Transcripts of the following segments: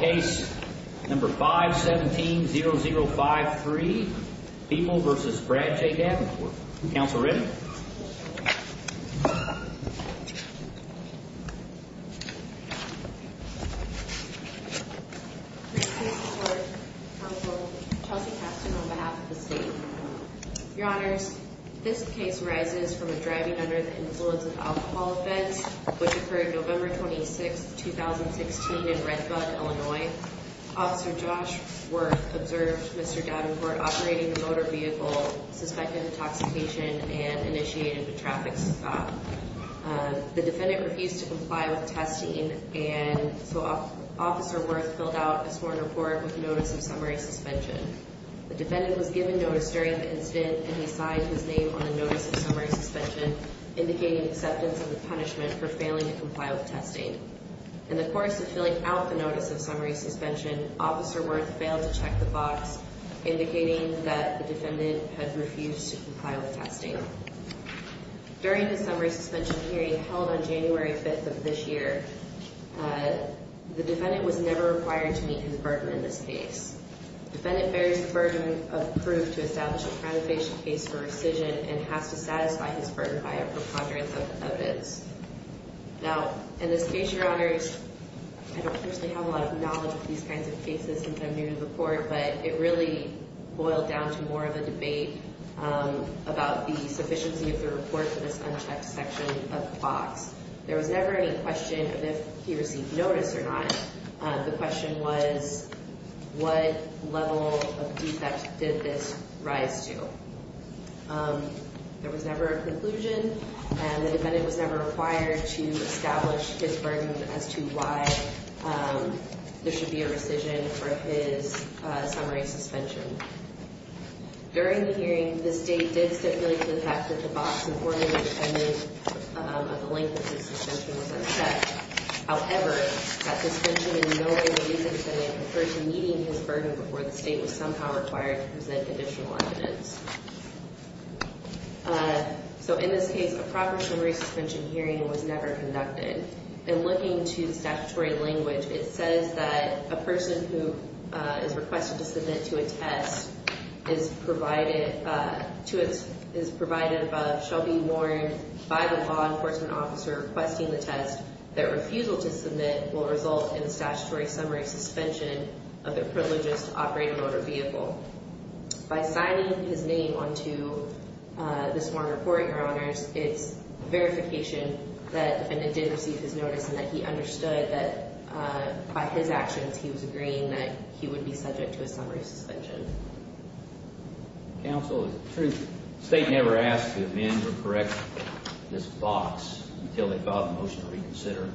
Case No. 517-0053, Peeble v. Brad J. Davenport Counsel ready? This case is for counsel Chelsea Kafton on behalf of the state Your honors, this case arises from a driving under the influence of alcohol offense, which occurred November 26, 2016 in Redbud, Illinois. Officer Josh Wirth observed Mr. Davenport operating the motor vehicle, suspected intoxication, and initiated a traffic stop. The defendant refused to comply with testing, and so Officer Wirth filled out a sworn report with notice of summary suspension. The defendant was given notice during the incident, and he signed his name on the notice of summary suspension, indicating acceptance of the punishment for failing to comply with testing. In the course of filling out the notice of summary suspension, Officer Wirth failed to check the box, indicating that the defendant had refused to comply with testing. During the summary suspension hearing held on January 5th of this year, the defendant was never required to meet his burden in this case. The defendant bears the burden of proof to establish a preemptive case for rescission, and has to satisfy his burden by a preponderance of notice. Now, in this case, your honors, I don't personally have a lot of knowledge of these kinds of cases since I'm new to the court, but it really boiled down to more of a debate about the sufficiency of the report for this unchecked section of the box. There was never any question of if he received notice or not. The question was, what level of defect did this rise to? There was never a conclusion, and the defendant was never required to establish his burden as to why there should be a rescission for his summary suspension. During the hearing, the State did stipulate to the facts that the box in order to detain the defendant of the length of his suspension was unchecked. However, that suspension is in no way the reason the defendant referred to meeting his burden before the State was somehow required to present additional evidence. So, in this case, a proper summary suspension hearing was never conducted. In looking to the statutory language, it says that a person who is requested to submit to a test is provided by Shelby Warren by the law enforcement officer requesting the test. Their refusal to submit will result in a statutory summary suspension of their privileged operated motor vehicle. By signing his name onto this one report, Your Honors, it's verification that the defendant did receive his notice and that he understood that by his actions he was agreeing that he would be subject to a summary suspension. Counsel, is it true the State never asked to amend or correct this box until they got the motion to reconsider?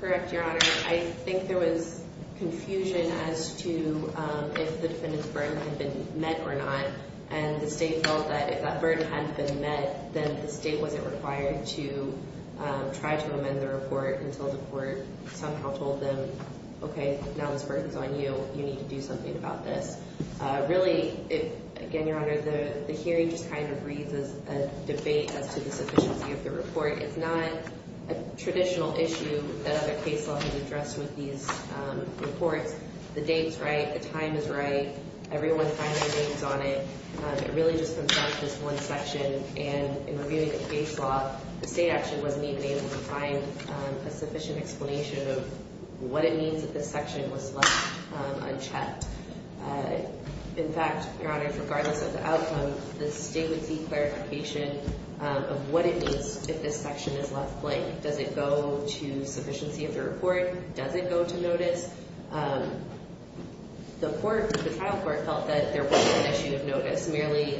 Correct, Your Honor. I think there was confusion as to if the defendant's burden had been met or not. And the State felt that if that burden hadn't been met, then the State wasn't required to try to amend the report until the court somehow told them, Okay, now this burden's on you. You need to do something about this. Really, again, Your Honor, the hearing just kind of reads as a debate as to the sufficiency of the report. It's not a traditional issue that other case law has addressed with these reports. The date's right. The time is right. Everyone signed their names on it. It really just comes down to this one section, and in reviewing the case law, the State actually wasn't even able to find a sufficient explanation of what it means that this section was left unchecked. In fact, Your Honor, regardless of the outcome, the State would see clarification of what it means if this section is left blank. Does it go to sufficiency of the report? Does it go to notice? The trial court felt that there wasn't an issue of notice, merely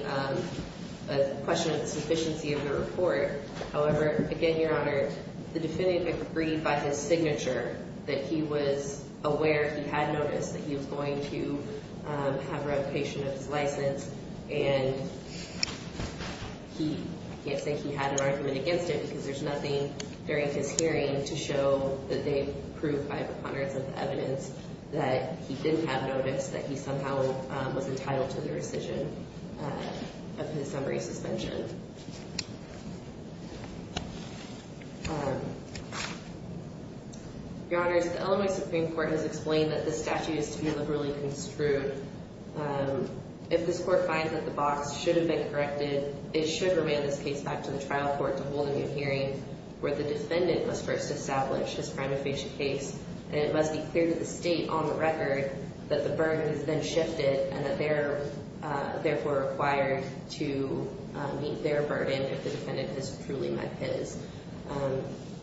a question of sufficiency of the report. However, again, Your Honor, the defendant agreed by his signature that he was aware, he had noticed, that he was going to have revocation of his license. And he – I can't say he had an argument against it because there's nothing during his hearing to show that they proved by preponderance of the evidence that he didn't have notice, that he somehow was entitled to the rescission of his summary suspension. Your Honors, the Illinois Supreme Court has explained that this statute is to be liberally construed. If this Court finds that the box should have been corrected, it should remand this case back to the trial court to hold a new hearing where the defendant must first establish his prima facie case. And it must be clear to the State on the record that the burden has been shifted and that they're therefore required to meet their burden if the defendant has truly met his.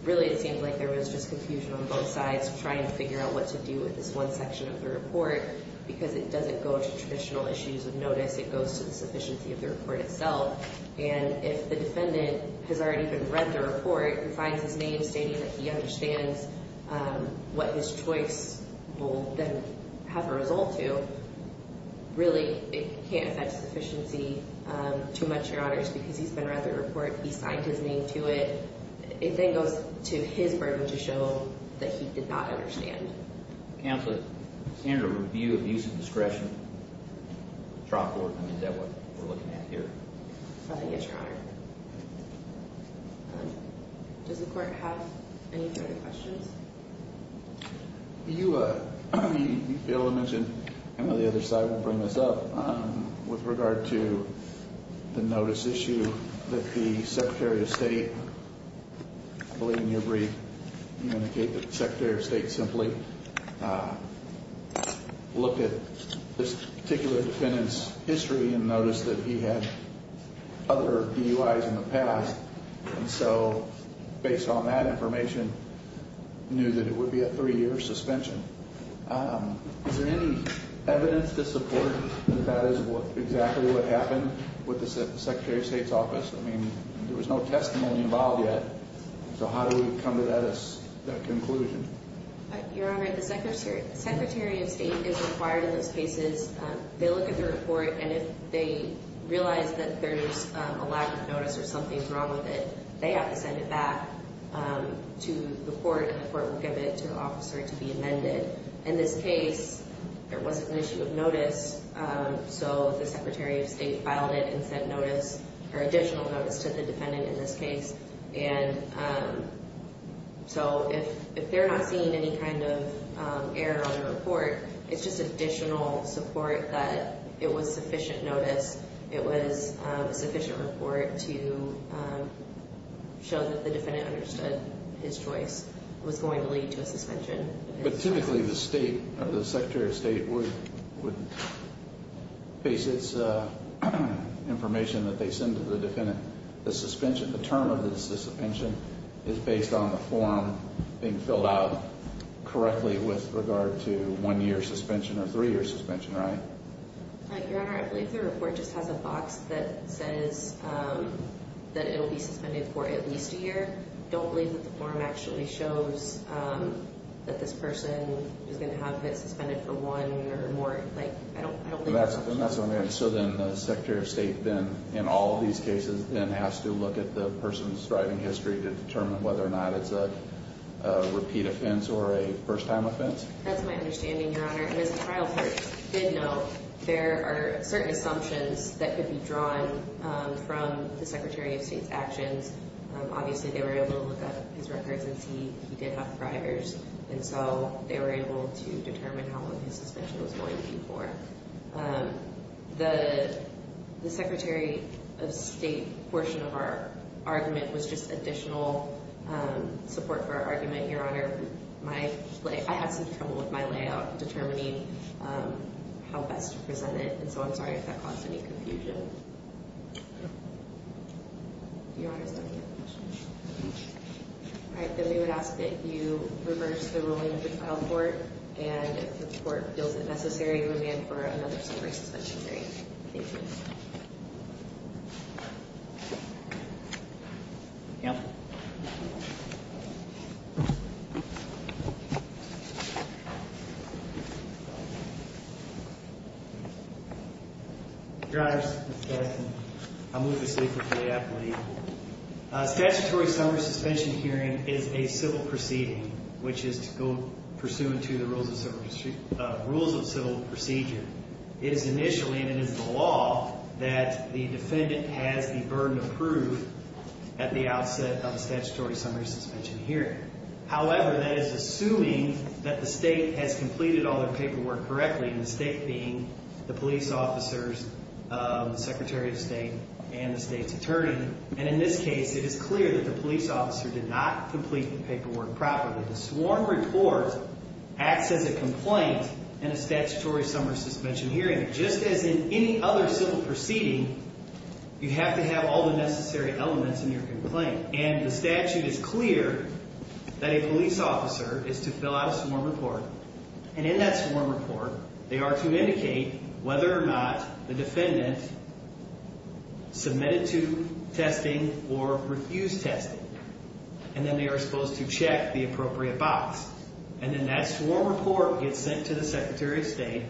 Really, it seems like there was just confusion on both sides trying to figure out what to do with this one section of the report because it doesn't go to traditional issues of notice, it goes to the sufficiency of the report itself. And if the defendant has already been read the report and finds his name stating that he understands what his choice will then have a result to, really, it can't affect sufficiency too much, Your Honors, because he's been read the report, he signed his name to it. It then goes to his burden to show that he did not understand. Counsel, standard review of use of discretion, trial court, I mean, is that what we're looking at here? I think it's, Your Honor. Does the Court have any further questions? You failed to mention, I know the other side will bring this up, with regard to the notice issue that the Secretary of State, I believe in your brief, you indicate that the Secretary of State simply looked at this particular defendant's history and noticed that he had other DUIs in the past. And so, based on that information, knew that it would be a three-year suspension. Is there any evidence to support that that is exactly what happened with the Secretary of State's office? I mean, there was no testimony involved yet, so how do we come to that conclusion? Your Honor, the Secretary of State is required in those cases, they look at the report, and if they realize that there's a lack of notice or something's wrong with it, they have to send it back to the court, and the court will give it to the officer to be amended. In this case, there wasn't an issue of notice, so the Secretary of State filed it and sent notice, or additional notice, to the defendant in this case. And so, if they're not seeing any kind of error on the report, it's just additional support that it was sufficient notice, it was sufficient report to show that the defendant understood his choice was going to lead to a suspension. But typically, the State, or the Secretary of State, would base its information that they send to the defendant. The suspension, the term of the suspension, is based on the form being filled out correctly with regard to one-year suspension or three-year suspension, right? Your Honor, I believe the report just has a box that says that it will be suspended for at least a year. I don't believe that the form actually shows that this person is going to have it suspended for one year or more. I don't believe that. That's what I'm hearing. So then, the Secretary of State then, in all of these cases, then has to look at the person's driving history to determine whether or not it's a repeat offense or a first-time offense? That's my understanding, Your Honor. And as a trial court did know, there are certain assumptions that could be drawn from the Secretary of State's actions. Obviously, they were able to look up his records and see he did have drivers, and so they were able to determine how long his suspension was going to be for. The Secretary of State portion of our argument was just additional support for our argument, Your Honor. I had some trouble with my layout determining how best to present it, and so I'm sorry if that caused any confusion. All right, then we would ask that you reverse the ruling of the trial court, and if the court feels it necessary, you would be in for another three-year suspension period. Thank you. Yeah. Thank you. Your Honor, I'm Lucas Leek with the Appalachian Court. Statutory summary suspension hearing is a civil proceeding, which is to go pursuant to the rules of civil procedure. It is initially, and it is the law, that the defendant has the burden of proof at the outset of a statutory summary suspension hearing. However, that is assuming that the State has completed all their paperwork correctly, and the State being the police officers, the Secretary of State, and the State's attorney. And in this case, it is clear that the police officer did not complete the paperwork properly. The sworn report acts as a complaint in a statutory summary suspension hearing, just as in any other civil proceeding, you have to have all the necessary elements in your complaint. And the statute is clear that a police officer is to fill out a sworn report. And in that sworn report, they are to indicate whether or not the defendant submitted to testing or refused testing. And then they are supposed to check the appropriate box. And then that sworn report gets sent to the Secretary of State.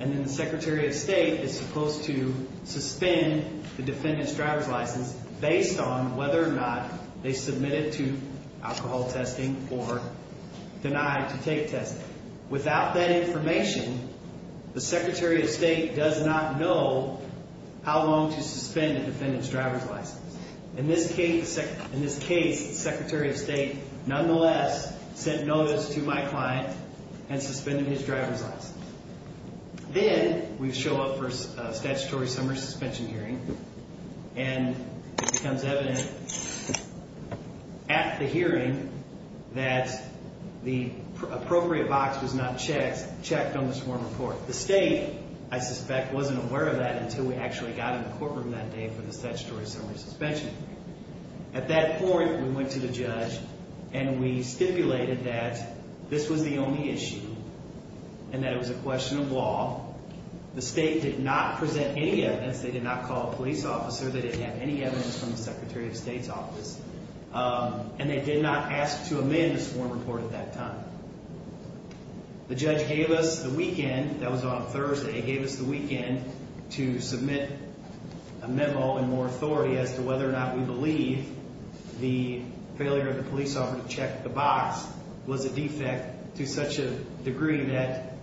And then the Secretary of State is supposed to suspend the defendant's driver's license based on whether or not they submitted to alcohol testing or denied to take testing. Without that information, the Secretary of State does not know how long to suspend the defendant's driver's license. In this case, the Secretary of State, nonetheless, sent notice to my client and suspended his driver's license. Then we show up for a statutory summary suspension hearing, and it becomes evident at the hearing that the appropriate box was not checked on the sworn report. The State, I suspect, wasn't aware of that until we actually got in the courtroom that day for the statutory summary suspension hearing. At that point, we went to the judge, and we stipulated that this was the only issue and that it was a question of law. The State did not present any evidence. They did not call a police officer. They didn't have any evidence from the Secretary of State's office. And they did not ask to amend the sworn report at that time. The judge gave us the weekend. That was on Thursday. He gave us the weekend to submit a memo in more authority as to whether or not we believe the failure of the police officer to check the box was a defect to such a degree that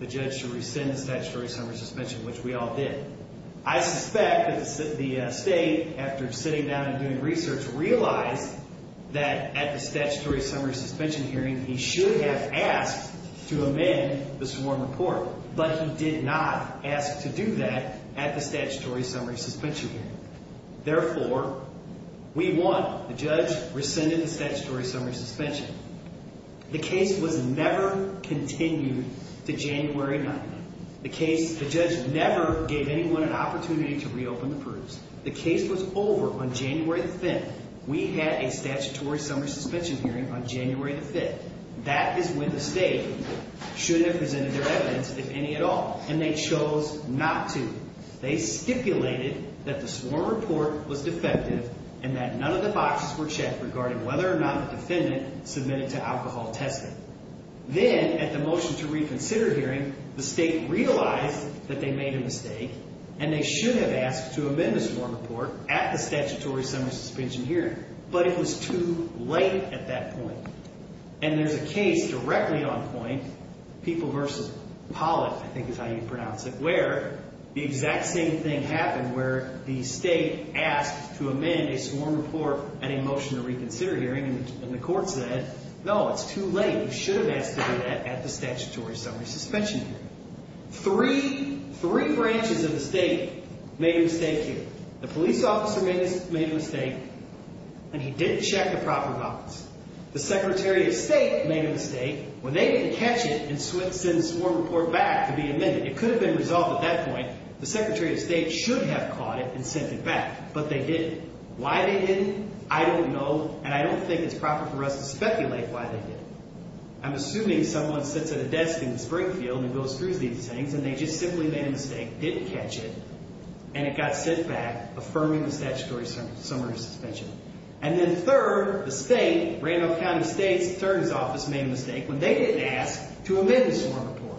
the judge should rescind the statutory summary suspension, which we all did. I suspect that the State, after sitting down and doing research, realized that at the statutory summary suspension hearing, he should have asked to amend the sworn report. But he did not ask to do that at the statutory summary suspension hearing. Therefore, we won. The judge rescinded the statutory summary suspension. The case was never continued to January 9th. The case, the judge never gave anyone an opportunity to reopen the proofs. The case was over on January 5th. We had a statutory summary suspension hearing on January 5th. That is when the State should have presented their evidence, if any at all. And they chose not to. They stipulated that the sworn report was defective and that none of the boxes were checked regarding whether or not the defendant submitted to alcohol testing. Then, at the motion to reconsider hearing, the State realized that they made a mistake. And they should have asked to amend the sworn report at the statutory summary suspension hearing. But it was too late at that point. And there's a case directly on point, People v. Pollack, I think is how you pronounce it, where the exact same thing happened where the State asked to amend a sworn report at a motion to reconsider hearing. And the court said, no, it's too late. You should have asked to do that at the statutory summary suspension hearing. Three branches of the State made a mistake here. The police officer made a mistake, and he didn't check the proper box. The Secretary of State made a mistake. When they didn't catch it and sent the sworn report back to be amended, it could have been resolved at that point. The Secretary of State should have caught it and sent it back. But they didn't. Why they didn't, I don't know. And I don't think it's proper for us to speculate why they didn't. I'm assuming someone sits at a desk in Springfield and goes through these things, and they just simply made a mistake, didn't catch it, and it got sent back, affirming the statutory summary suspension. And then third, the State, Randolph County State's attorney's office made a mistake when they didn't ask to amend the sworn report.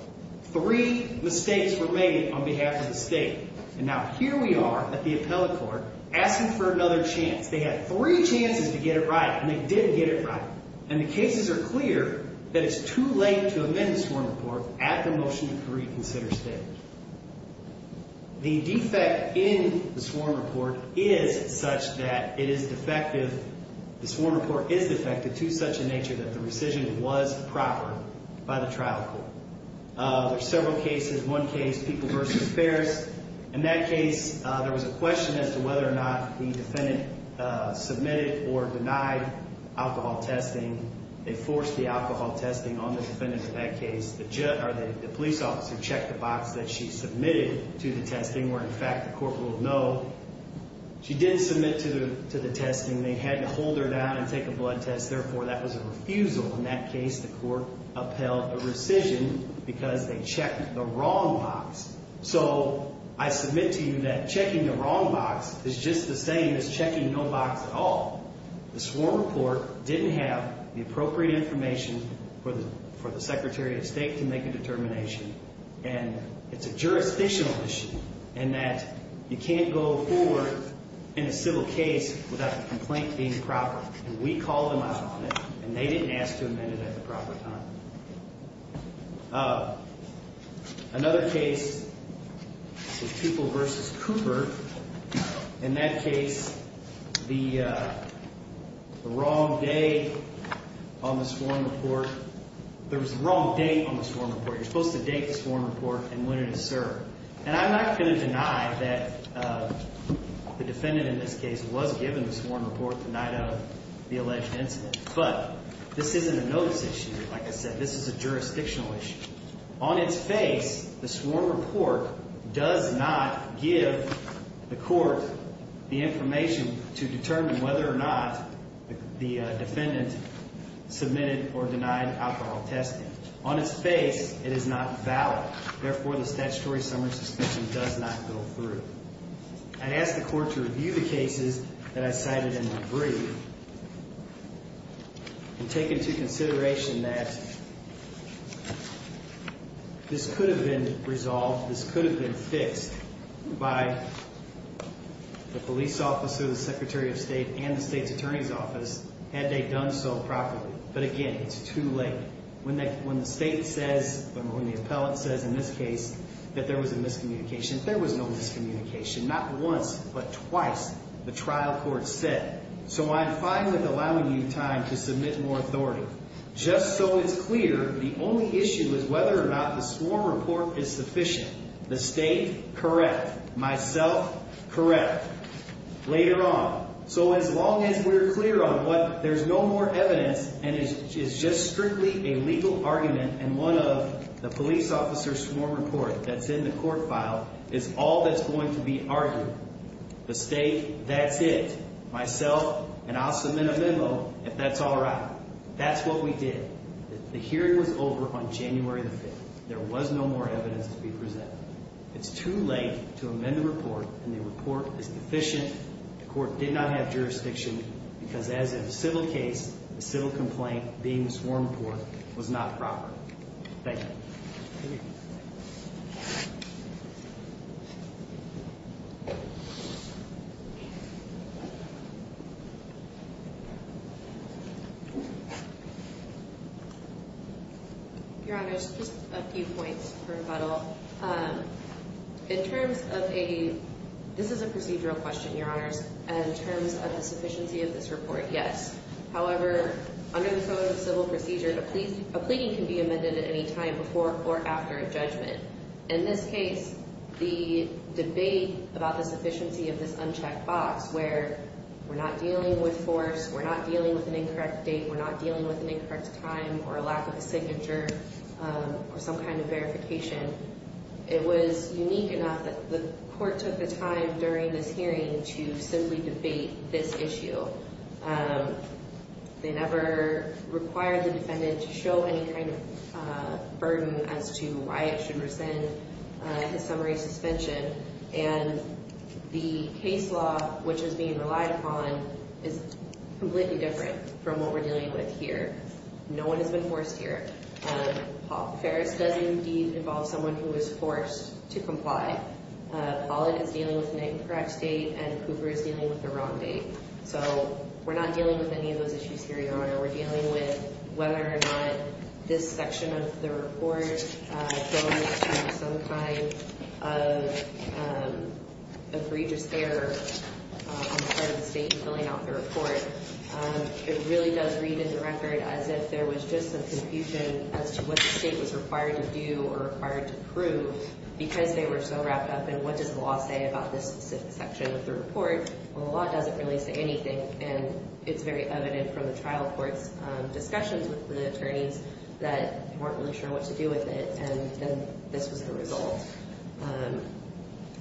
Three mistakes were made on behalf of the State. And now here we are at the appellate court asking for another chance. They had three chances to get it right, and they didn't get it right. And the cases are clear that it's too late to amend the sworn report at the motion to reconsider State. The defect in the sworn report is such that it is defective. The sworn report is defective to such a nature that the rescission was proper by the trial court. There are several cases. One case, people versus affairs. In that case, there was a question as to whether or not the defendant submitted or denied alcohol testing. They forced the alcohol testing on the defendant. In that case, the police officer checked the box that she submitted to the testing, where, in fact, the court will know she didn't submit to the testing. They had to hold her down and take a blood test. Therefore, that was a refusal. In that case, the court upheld a rescission because they checked the wrong box. So I submit to you that checking the wrong box is just the same as checking no box at all. The sworn report didn't have the appropriate information for the Secretary of State to make a determination, and it's a jurisdictional issue in that you can't go forward in a civil case without the complaint being proper. And we called them out on it, and they didn't ask to amend it at the proper time. Another case is people versus Cooper. In that case, the wrong date on the sworn report. There was a wrong date on the sworn report. You're supposed to date the sworn report and when it is served. And I'm not going to deny that the defendant in this case was given the sworn report the night of the alleged incident, but this isn't a notice issue. Like I said, this is a jurisdictional issue. On its face, the sworn report does not give the court the information to determine whether or not the defendant submitted or denied alcohol testing. On its face, it is not valid. Therefore, the statutory summary suspension does not go through. I asked the court to review the cases that I cited in my brief and take into consideration that this could have been resolved, this could have been fixed by the police officer, the Secretary of State, and the state's attorney's office had they done so properly. But again, it's too late. When the state says, when the appellate says in this case that there was a miscommunication, there was no miscommunication. Not once, but twice, the trial court said. So I'm fine with allowing you time to submit more authority. Just so it's clear, the only issue is whether or not the sworn report is sufficient. The state, correct. Myself, correct. Later on. So as long as we're clear on what there's no more evidence and it's just strictly a legal argument and one of the police officer's sworn report that's in the court file is all that's going to be argued, the state, that's it. Myself, and I'll submit a memo if that's all right. That's what we did. The hearing was over on January the 5th. There was no more evidence to be presented. It's too late to amend the report, and the report is deficient. The court did not have jurisdiction, because as in a civil case, a civil complaint being a sworn report was not proper. Thank you. Thank you. Your Honors, just a few points for rebuttal. In terms of a, this is a procedural question, Your Honors. In terms of the sufficiency of this report, yes. However, under the code of civil procedure, a plea can be amended at any time before or after a judgment. In this case, the debate about the sufficiency of this unchecked box where we're not dealing with force, we're not dealing with an incorrect date, we're not dealing with an incorrect time or a lack of a signature or some kind of verification, it was unique enough that the court took the time during this hearing to simply debate this issue. They never required the defendant to show any kind of burden as to why it should rescind his summary suspension, and the case law which is being relied upon is completely different from what we're dealing with here. No one has been forced here. Paul Ferris does indeed involve someone who was forced to comply. Pollitt is dealing with an incorrect date and Cooper is dealing with the wrong date. So we're not dealing with any of those issues here, Your Honor. We're dealing with whether or not this section of the report goes to some kind of egregious error on the part of the state in filling out the report. It really does read in the record as if there was just some confusion as to what the state was required to do or required to prove because they were so wrapped up in what does the law say about this specific section of the report. Well, the law doesn't really say anything, and it's very evident from the trial court's discussions with the attorneys that they weren't really sure what to do with it, and this was the result.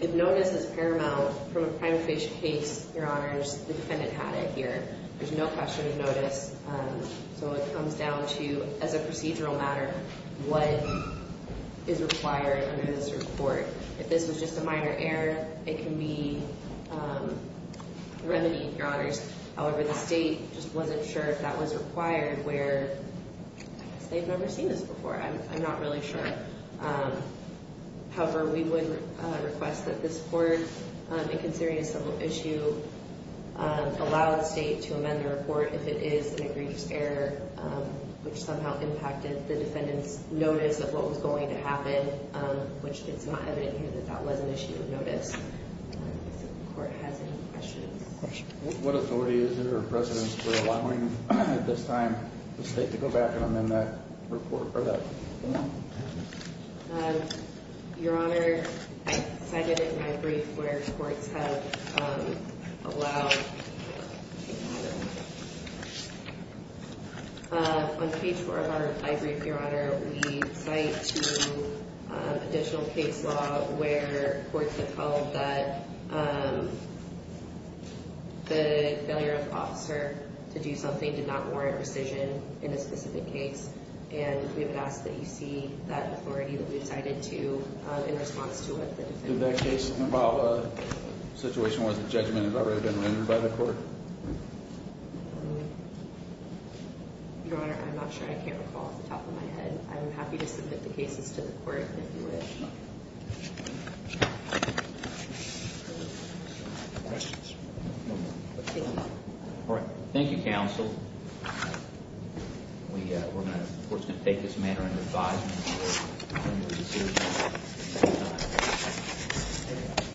If notice is paramount from a primary case, Your Honors, the defendant had it here. There's no question of notice, so it comes down to, as a procedural matter, what is required under this report. If this was just a minor error, it can be remedied, Your Honors. However, the state just wasn't sure if that was required where they've never seen this before. I'm not really sure. However, we would request that this court, in considering a civil issue, allow the state to amend the report if it is an egregious error which somehow impacted the defendant's notice of what was going to happen, which it's not evident here that that was an issue of notice. If the court has any questions. What authority is there or precedence for allowing, at this time, the state to go back and amend that report or that form? Your Honor, I cited it in my brief where courts have allowed. On page 4 of our brief, Your Honor, we cite to additional case law where courts have called that the failure of an officer to do something did not warrant rescission in a specific case. And we would ask that you see that authority that we've cited to in response to what the defendant said. Your Honor, I'm not sure. I can't recall off the top of my head. I'm happy to submit the cases to the court if you wish. Questions? All right. Thank you, counsel. We're going to, of course, take this matter under advisement.